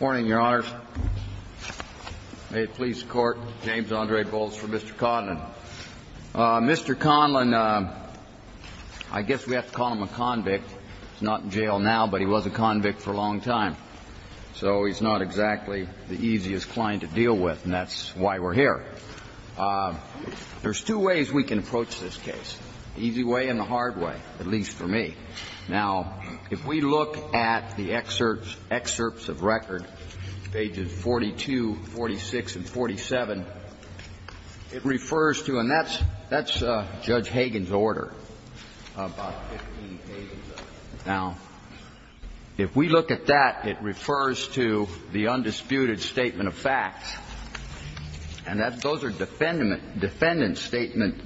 May it please the Court, James Andre Bowles for Mr. Conlon. Mr. Conlon, I guess we have to call him a convict. He's not in jail now, but he was a convict for a long time. So he's not exactly the easiest client to deal with, and that's why we're here. There's two ways we can approach this case, the easy way and the hard way, at least for me. Now, if we look at the excerpts of record, pages 42, 46 and 47, it refers to, and that's Judge Hagan's order, about 15 pages of it. Now, if we look at that, it refers to the undisputed statement of facts. And those are defendant's statement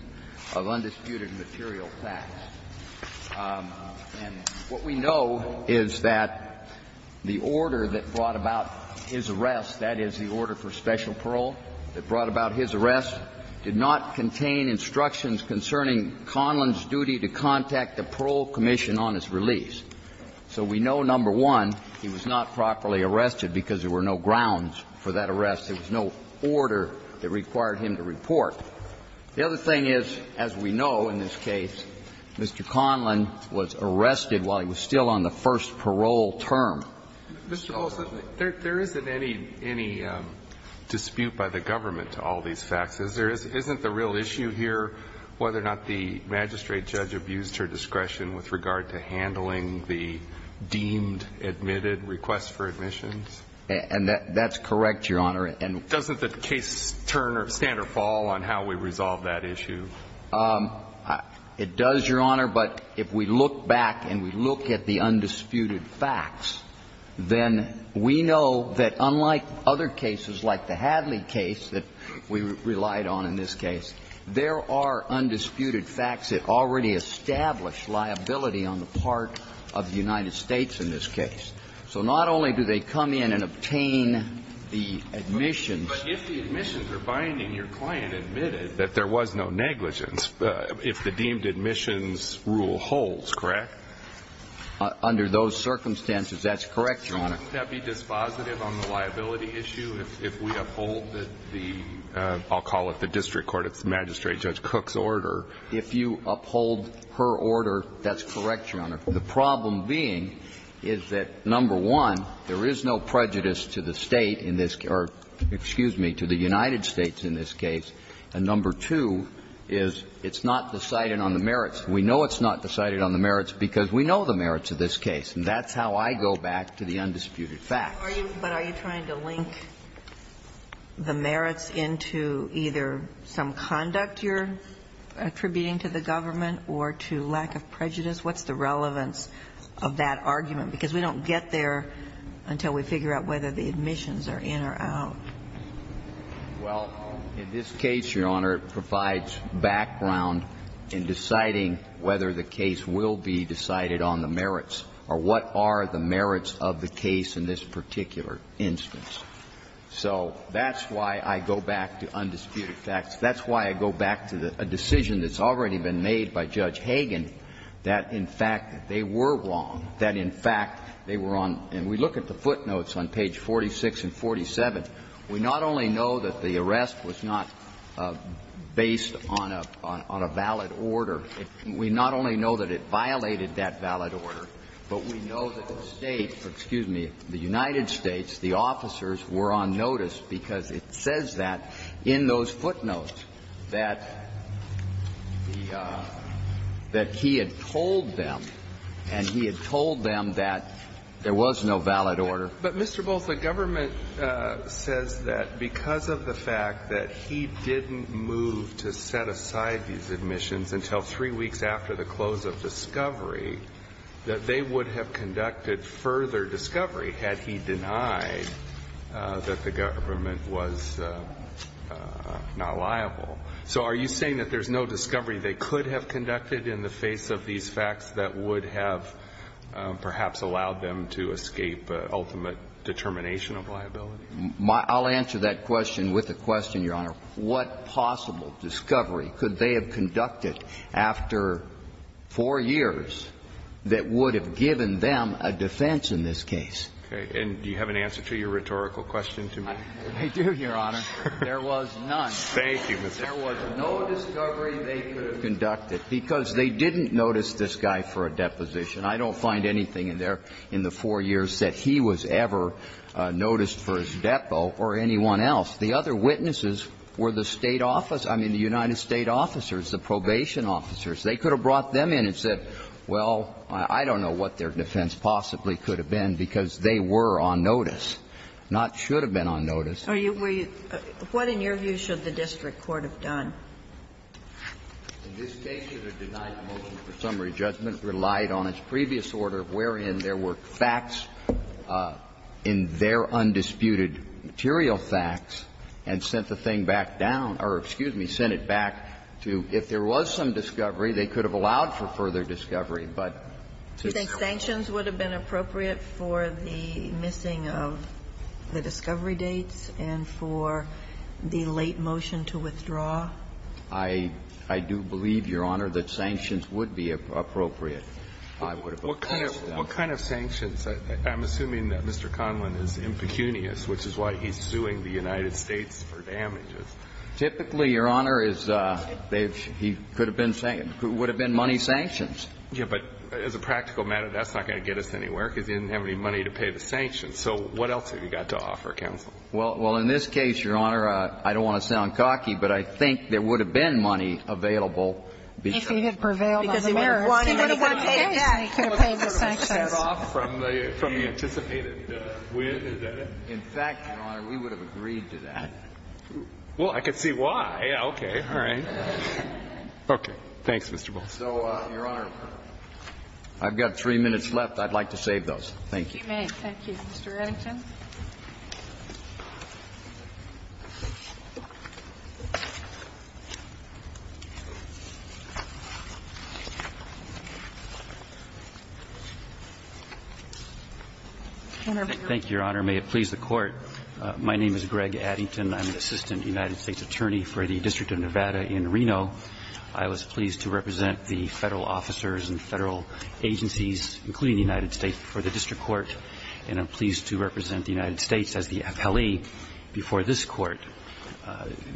of undisputed material facts. And what we know is that the order that brought about his arrest, that is, the order for special parole that brought about his arrest, did not contain instructions concerning Conlon's duty to contact the Parole Commission on his release. So we know, number one, he was not properly arrested because there were no grounds for that arrest. There was no order that required him to report. The other thing is, as we know in this case, Mr. Conlon was arrested while he was still on the first parole term. Mr. Olson, there isn't any dispute by the government to all these facts. Isn't the real issue here whether or not the magistrate judge abused her discretion with regard to handling the deemed, admitted requests for admissions? And that's correct, Your Honor. Doesn't the case turn or stand or fall on how we resolve that issue? It does, Your Honor, but if we look back and we look at the undisputed facts, then we know that unlike other cases like the Hadley case that we relied on in this case, there are undisputed facts that already establish liability on the part of the United States in this case. So not only do they come in and obtain the admissions. But if the admissions are binding, your client admitted that there was no negligence if the deemed admissions rule holds, correct? Under those circumstances, that's correct, Your Honor. Wouldn't that be dispositive on the liability issue if we uphold the, I'll call it the district court, it's the magistrate judge Cook's order? If you uphold her order, that's correct, Your Honor. The problem being is that, number one, there is no prejudice to the State in this case or, excuse me, to the United States in this case. And number two is it's not decided on the merits. We know it's not decided on the merits because we know the merits of this case. And that's how I go back to the undisputed facts. But are you trying to link the merits into either some conduct you're attributing to the government or to lack of prejudice? What's the relevance of that argument? Because we don't get there until we figure out whether the admissions are in or out. Well, in this case, Your Honor, it provides background in deciding whether the case will be decided on the merits or what are the merits of the case in this particular instance. So that's why I go back to undisputed facts. That's why I go back to a decision that's already been made by Judge Hagan that, in fact, they were wrong, that, in fact, they were on. And we look at the footnotes on page 46 and 47. We not only know that the arrest was not based on a valid order. We not only know that it violated that valid order, but we know that the State, excuse me, the United States, the officers were on notice because it says that in those footnotes that he had told them, and he had told them that there was no valid order. But, Mr. Booth, the government says that because of the fact that he didn't move to set aside these admissions until three weeks after the close of discovery, that they would have conducted further discovery had he denied that the government was not liable. So are you saying that there's no discovery they could have conducted in the face of these facts that would have perhaps allowed them to escape ultimate determination of liability? I'll answer that question with a question, Your Honor. What possible discovery could they have conducted after four years that would have given them a defense in this case? Okay. And do you have an answer to your rhetorical question to me? I do, Your Honor. There was none. Thank you, Mr. Booth. There was no discovery they could have conducted because they didn't notice this guy for a deposition. I don't find anything in there in the four years that he was ever noticed for his depo or anyone else. The other witnesses were the State office – I mean, the United States officers, the probation officers. They could have brought them in and said, well, I don't know what their defense possibly could have been because they were on notice, not should have been on notice. Are you – were you – what, in your view, should the district court have done? In this case, it would have denied the motion for summary judgment, relied on its previous order wherein there were facts in their undisputed material facts, and sent the thing back down – or, excuse me, sent it back to if there was some discovery, they could have allowed for further discovery, but to no avail. Sanctions would have been appropriate for the missing of the discovery dates and for the late motion to withdraw? I – I do believe, Your Honor, that sanctions would be appropriate. I would have opposed to that. What kind of – what kind of sanctions? I'm assuming that Mr. Conlon is impecunious, which is why he's suing the United States for damages. Typically, Your Honor, is – he could have been – would have been money sanctions. Yeah, but as a practical matter, that's not going to get us anywhere because he didn't have any money to pay the sanctions. So what else have you got to offer, counsel? Well – well, in this case, Your Honor, I don't want to sound cocky, but I think there would have been money available because of that. If he had prevailed on the merits. Because he wouldn't have wanted to pay it back. He would have wanted to pay the sanctions. He would have wanted to cut off from the anticipated win, is that it? In fact, Your Honor, we would have agreed to that. Well, I could see why. Yeah, okay. All right. Okay. Thanks, Mr. Bolson. So, Your Honor, I've got three minutes left. I'd like to save those. Thank you. You may. Thank you. Mr. Addington. Thank you, Your Honor. May it please the Court. My name is Greg Addington. I'm an assistant United States attorney for the District of Nevada in Reno. I was pleased to represent the Federal officers and Federal agencies, including the United States, before the district court, and I'm pleased to represent the United States as the appellee before this court.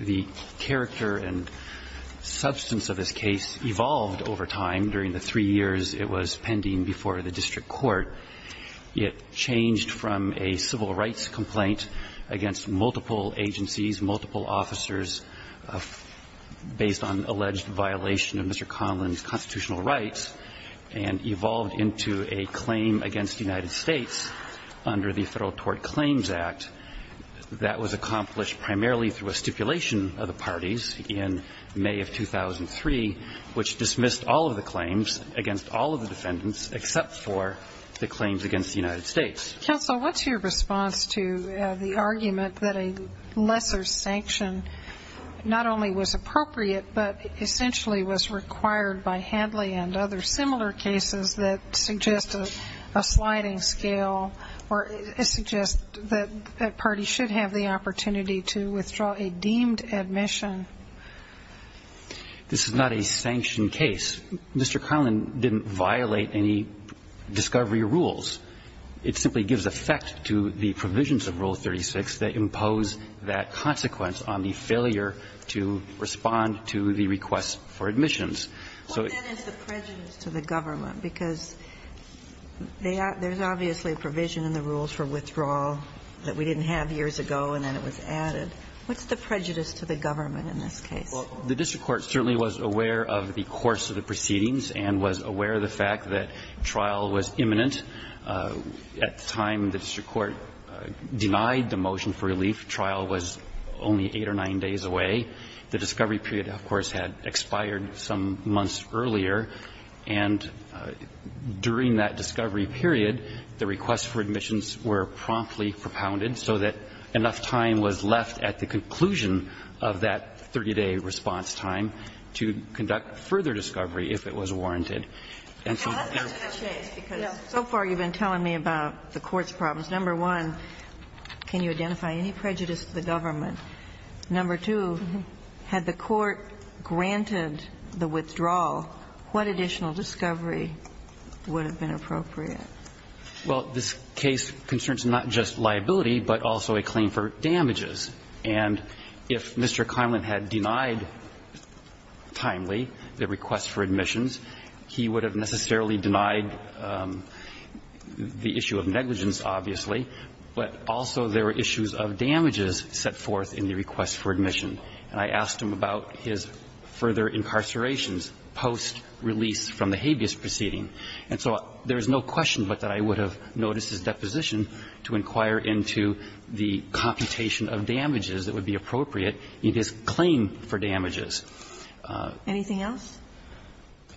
The character and substance of this case evolved over time. During the three years it was pending before the district court, it changed from a civil rights complaint against multiple agencies, multiple officers, based on the alleged violation of Mr. Conlon's constitutional rights, and evolved into a claim against the United States under the Federal Tort Claims Act that was accomplished primarily through a stipulation of the parties in May of 2003, which dismissed all of the claims against all of the defendants except for the claims against the United States. Counsel, what's your response to the argument that a lesser sanction not only was appropriate, but essentially was required by Hadley and other similar cases that suggest a sliding scale, or suggest that that party should have the opportunity to withdraw a deemed admission? This is not a sanctioned case. Mr. Conlon didn't violate any discovery rules. It simply gives effect to the provisions of Rule 36 that impose that consequence on the failure to respond to the request for admissions. So it's the prejudice to the government, because there's obviously a provision in the rules for withdrawal that we didn't have years ago, and then it was added. What's the prejudice to the government in this case? Well, the district court certainly was aware of the course of the proceedings and was aware of the fact that trial was imminent. At the time the district court denied the motion for relief, trial was only eight or nine days away. The discovery period, of course, had expired some months earlier, and during that discovery period, the requests for admissions were promptly propounded so that enough time was left at the conclusion of that 30-day response time to conduct further discovery if it was warranted. And so there was no change, because so far you've been telling me about the court's problems. Number one, can you identify any prejudice to the government? Number two, had the court granted the withdrawal, what additional discovery would have been appropriate? Well, this case concerns not just liability, but also a claim for damages. And if Mr. Conlin had denied timely the request for admissions, he would have necessarily denied the issue of negligence, obviously, but also there were issues of damages set forth in the request for admission. And I asked him about his further incarcerations post-release from the habeas proceeding. And so there is no question but that I would have noticed his deposition to inquire into the computation of damages that would be appropriate in his claim for damages. Anything else?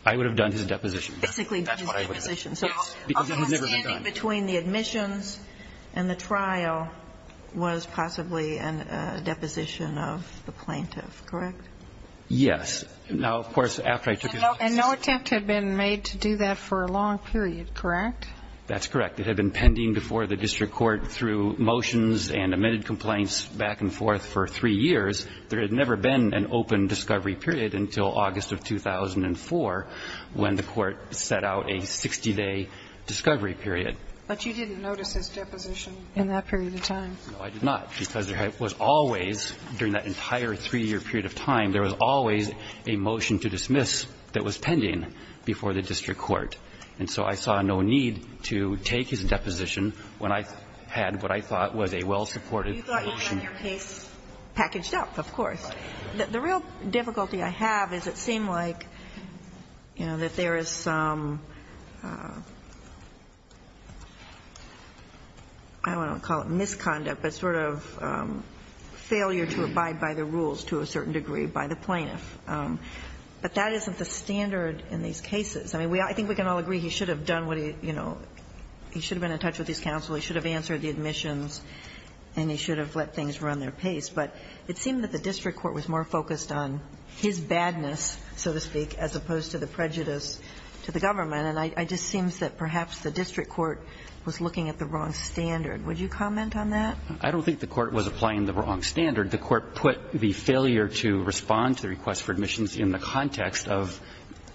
I would have done his deposition. Basically, his deposition. So a misunderstanding between the admissions and the trial was possibly a deposition of the plaintiff, correct? Yes. Now, of course, after I took his office. And no attempt had been made to do that for a long period, correct? That's correct. It had been pending before the district court through motions and amended complaints back and forth for three years. There had never been an open discovery period until August of 2004 when the Court set out a 60-day discovery period. But you didn't notice his deposition in that period of time? No, I did not, because there was always, during that entire three-year period of time, there was always a motion to dismiss that was pending before the district court. And so I saw no need to take his deposition when I had what I thought was a well-supported motion. So you thought you had your case packaged up, of course. The real difficulty I have is it seemed like, you know, that there is some, I don't want to call it misconduct, but sort of failure to abide by the rules to a certain degree by the plaintiff. But that isn't the standard in these cases. I mean, I think we can all agree he should have done what he, you know, he should have been in touch with his counsel, he should have answered the admissions, and he should have let things run their pace. But it seemed that the district court was more focused on his badness, so to speak, as opposed to the prejudice to the government. And it just seems that perhaps the district court was looking at the wrong standard. Would you comment on that? I don't think the court was applying the wrong standard. The court put the failure to respond to the request for admissions in the context of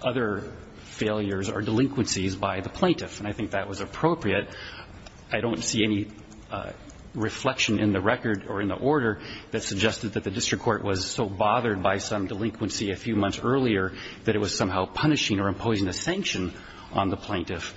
other failures or delinquencies by the plaintiff, and I think that was appropriate. I don't see any reflection in the record or in the order that suggested that the district court was so bothered by some delinquency a few months earlier that it was somehow punishing or imposing a sanction on the plaintiff.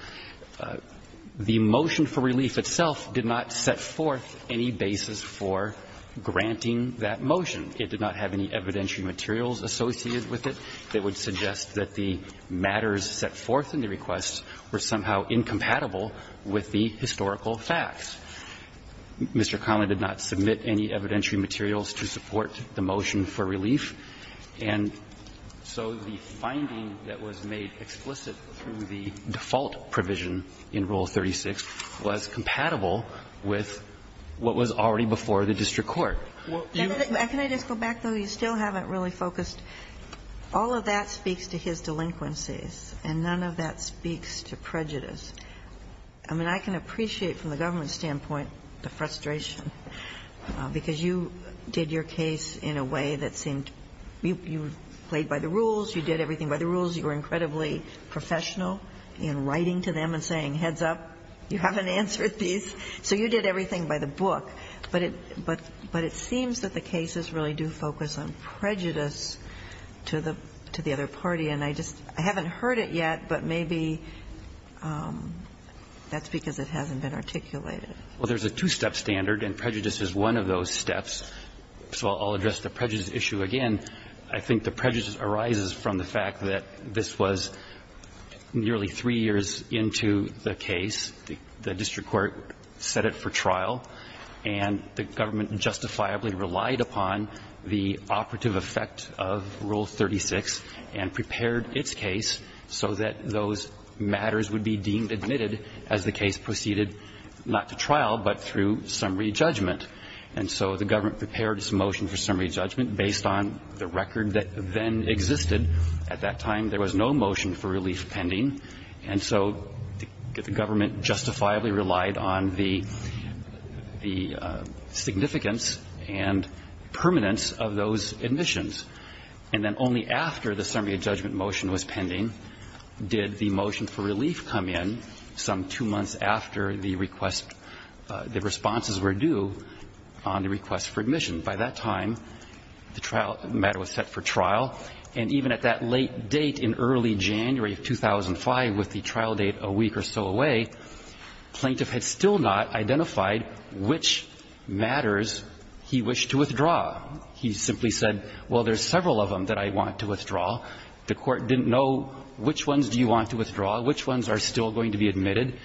The motion for relief itself did not set forth any basis for granting that motion. It did not have any evidentiary materials associated with it that would suggest that the matters set forth in the request were somehow incompatible with the historical facts. Mr. Connelly did not submit any evidentiary materials to support the motion for relief. And so the finding that was made explicit through the default provision in Rule 36 was compatible with what was already before the district court. You can't just go back, though, you still haven't really focused. All of that speaks to his delinquencies, and none of that speaks to prejudice. I mean, I can appreciate from the government's standpoint the frustration, because you did your case in a way that seemed you played by the rules, you did everything by the rules, you were incredibly professional in writing to them and saying, heads up, you haven't answered these. So you did everything by the book. But it seems that the cases really do focus on prejudice to the other party. And I just haven't heard it yet, but maybe that's because it hasn't been articulated. Well, there's a two-step standard, and prejudice is one of those steps. So I'll address the prejudice issue again. I think the prejudice arises from the fact that this was nearly three years into the case. The district court set it for trial, and the government justifiably relied upon the operative effect of Rule 36 and prepared its case so that those matters would be deemed admitted as the case proceeded not to trial, but through summary judgment. And so the government prepared its motion for summary judgment based on the record that then existed. At that time, there was no motion for relief pending. And so the government justifiably relied on the significance and permanence of those admissions. And then only after the summary judgment motion was pending did the motion for relief come in some two months after the request the responses were due on the request for admission. By that time, the trial matter was set for trial. And even at that late date in early January of 2005, with the trial date a week or so away, plaintiff had still not identified which matters he wished to withdraw. He simply said, well, there's several of them that I want to withdraw. The court didn't know which ones do you want to withdraw, which ones are still going to be admitted.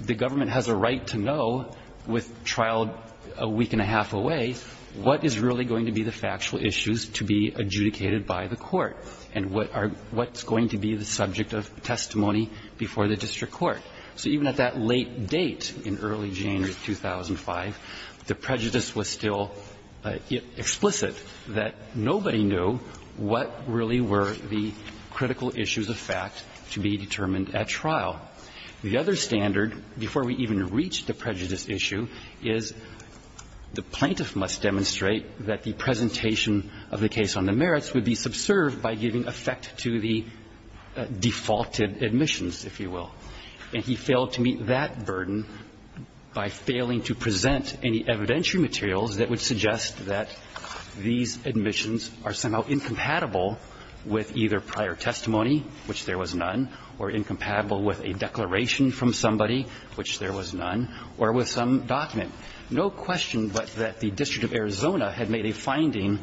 The government has a right to know, with trial a week and a half away, what is really going to be the factual issues to be adjudicated by the court and what are what's going to be the subject of testimony before the district court. So even at that late date in early January of 2005, the prejudice was still explicit that nobody knew what really were the critical issues of fact to be determined at trial. The other standard, before we even reached the prejudice issue, is the plaintiff must demonstrate that the presentation of the case on the merits would be subserved by giving effect to the defaulted admissions, if you will. And he failed to meet that burden by failing to present any evidentiary materials that would suggest that these admissions are somehow incompatible with either prior testimony, which there was none, or incompatible with a declaration from somebody, which there was none, or with some document. No question but that the District of Arizona had made a finding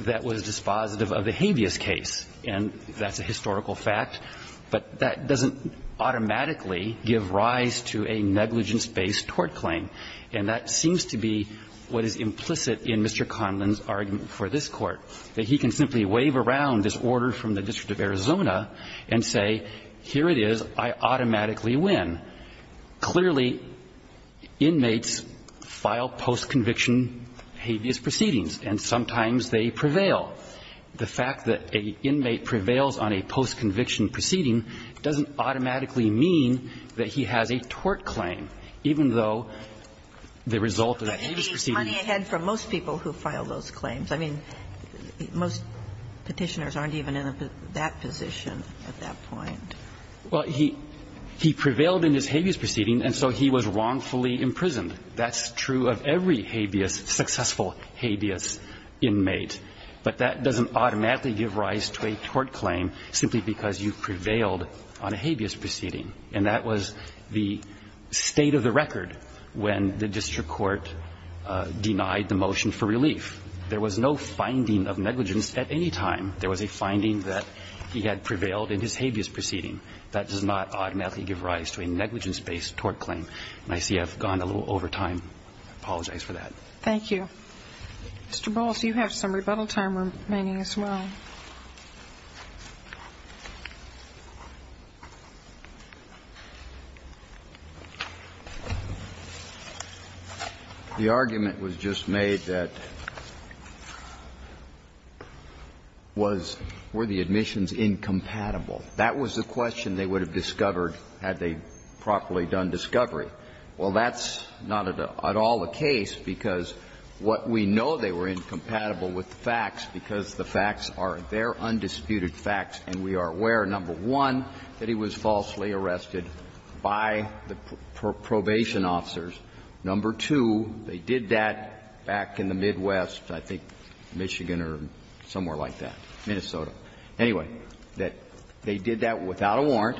that was dispositive of the habeas case, and that's a historical fact. But that doesn't automatically give rise to a negligence-based tort claim. And that seems to be what is implicit in Mr. Conlin's argument for this Court, that he can simply wave around this order from the District of Arizona and say, here it is, I automatically win. Clearly, inmates file post-conviction habeas proceedings, and sometimes they prevail. The fact that an inmate prevails on a post-conviction proceeding doesn't automatically mean that he has a tort claim, even though the result of that habeas proceeding was a tort claim. But he's running ahead from most people who file those claims. I mean, most Petitioners aren't even in that position at that point. Well, he prevailed in his habeas proceeding, and so he was wrongfully imprisoned. That's true of every habeas, successful habeas, inmate. But that doesn't automatically give rise to a tort claim simply because you prevailed on a habeas proceeding. And that was the state of the record when the district court denied the motion for relief. There was no finding of negligence at any time. There was a finding that he had prevailed in his habeas proceeding. That does not automatically give rise to a negligence-based tort claim. And I see I've gone a little over time. I apologize for that. Thank you. Mr. Bowles, you have some rebuttal time remaining as well. The question was, were the admissions incompatible? That was the question they would have discovered had they properly done discovery. Well, that's not at all the case, because what we know, they were incompatible with the facts, because the facts are their undisputed facts, and we are aware, number one, that he was falsely arrested by the probation officers. Number two, they did that back in the Midwest, I think Michigan or somewhere like that. Minnesota. Anyway, that they did that without a warrant,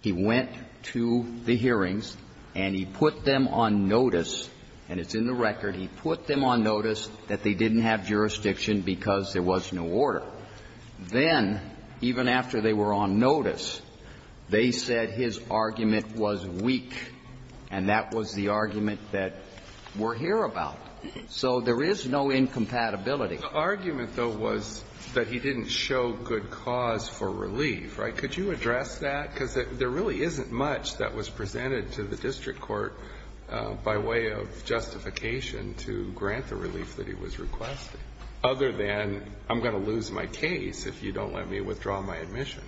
he went to the hearings, and he put them on notice, and it's in the record, he put them on notice that they didn't have jurisdiction because there was no order. Then, even after they were on notice, they said his argument was weak, and that was the argument that we're here about. So there is no incompatibility. The argument, though, was that he didn't show good cause for relief, right? Could you address that? Because there really isn't much that was presented to the district court by way of justification to grant the relief that he was requesting, other than I'm going to lose my case if you don't let me withdraw my admission.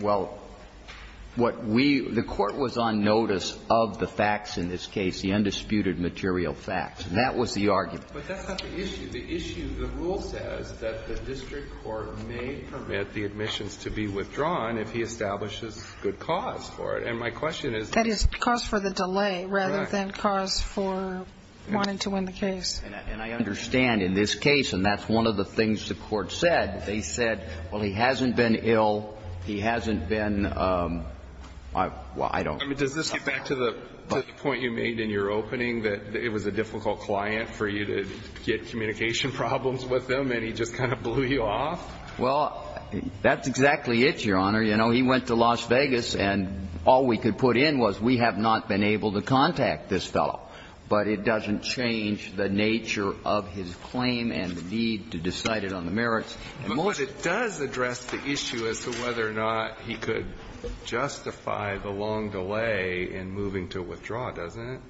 Well, what we – the court was on notice of the facts in this case, the undisputed material facts. That was the argument. But that's not the issue. The issue, the rule says that the district court may permit the admissions to be withdrawn if he establishes good cause for it. And my question is – That is, cause for the delay rather than cause for wanting to win the case. And I understand in this case, and that's one of the things the court said, they said, well, he hasn't been ill, he hasn't been – well, I don't – I mean, does this get back to the point you made in your opening, that it was a case that he had communication problems with them and he just kind of blew you off? Well, that's exactly it, Your Honor. You know, he went to Las Vegas, and all we could put in was we have not been able to contact this fellow. But it doesn't change the nature of his claim and the need to decide it on the merits. But it does address the issue as to whether or not he could justify the long delay in moving to withdraw, doesn't it?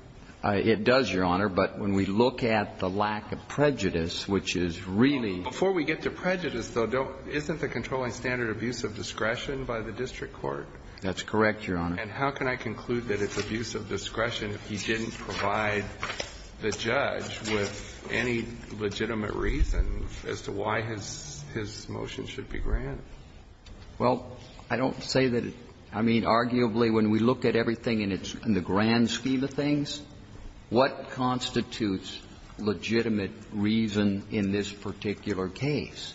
It does, Your Honor. But when we look at the lack of prejudice, which is really – Before we get to prejudice, though, don't – isn't the controlling standard abuse of discretion by the district court? That's correct, Your Honor. And how can I conclude that it's abuse of discretion if he didn't provide the judge with any legitimate reason as to why his – his motion should be granted? Well, I don't say that – I mean, arguably, when we look at everything in its – in its entirety, what constitutes legitimate reason in this particular case?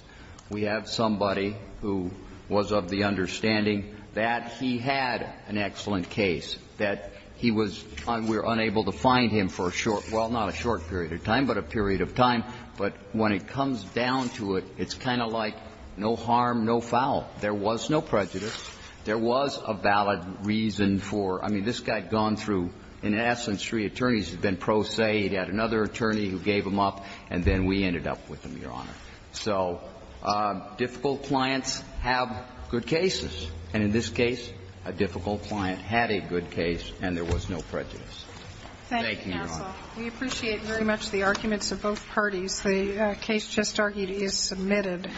We have somebody who was of the understanding that he had an excellent case, that he was – we were unable to find him for a short – well, not a short period of time, but a period of time. But when it comes down to it, it's kind of like no harm, no foul. There was no prejudice. There was a valid reason for – I mean, this guy had gone through – in essence, three attorneys had been prosaic. He had another attorney who gave him up, and then we ended up with him, Your Honor. So difficult clients have good cases. And in this case, a difficult client had a good case, and there was no prejudice. Thank you, Your Honor. We appreciate very much the arguments of both parties. The case just argued is submitted.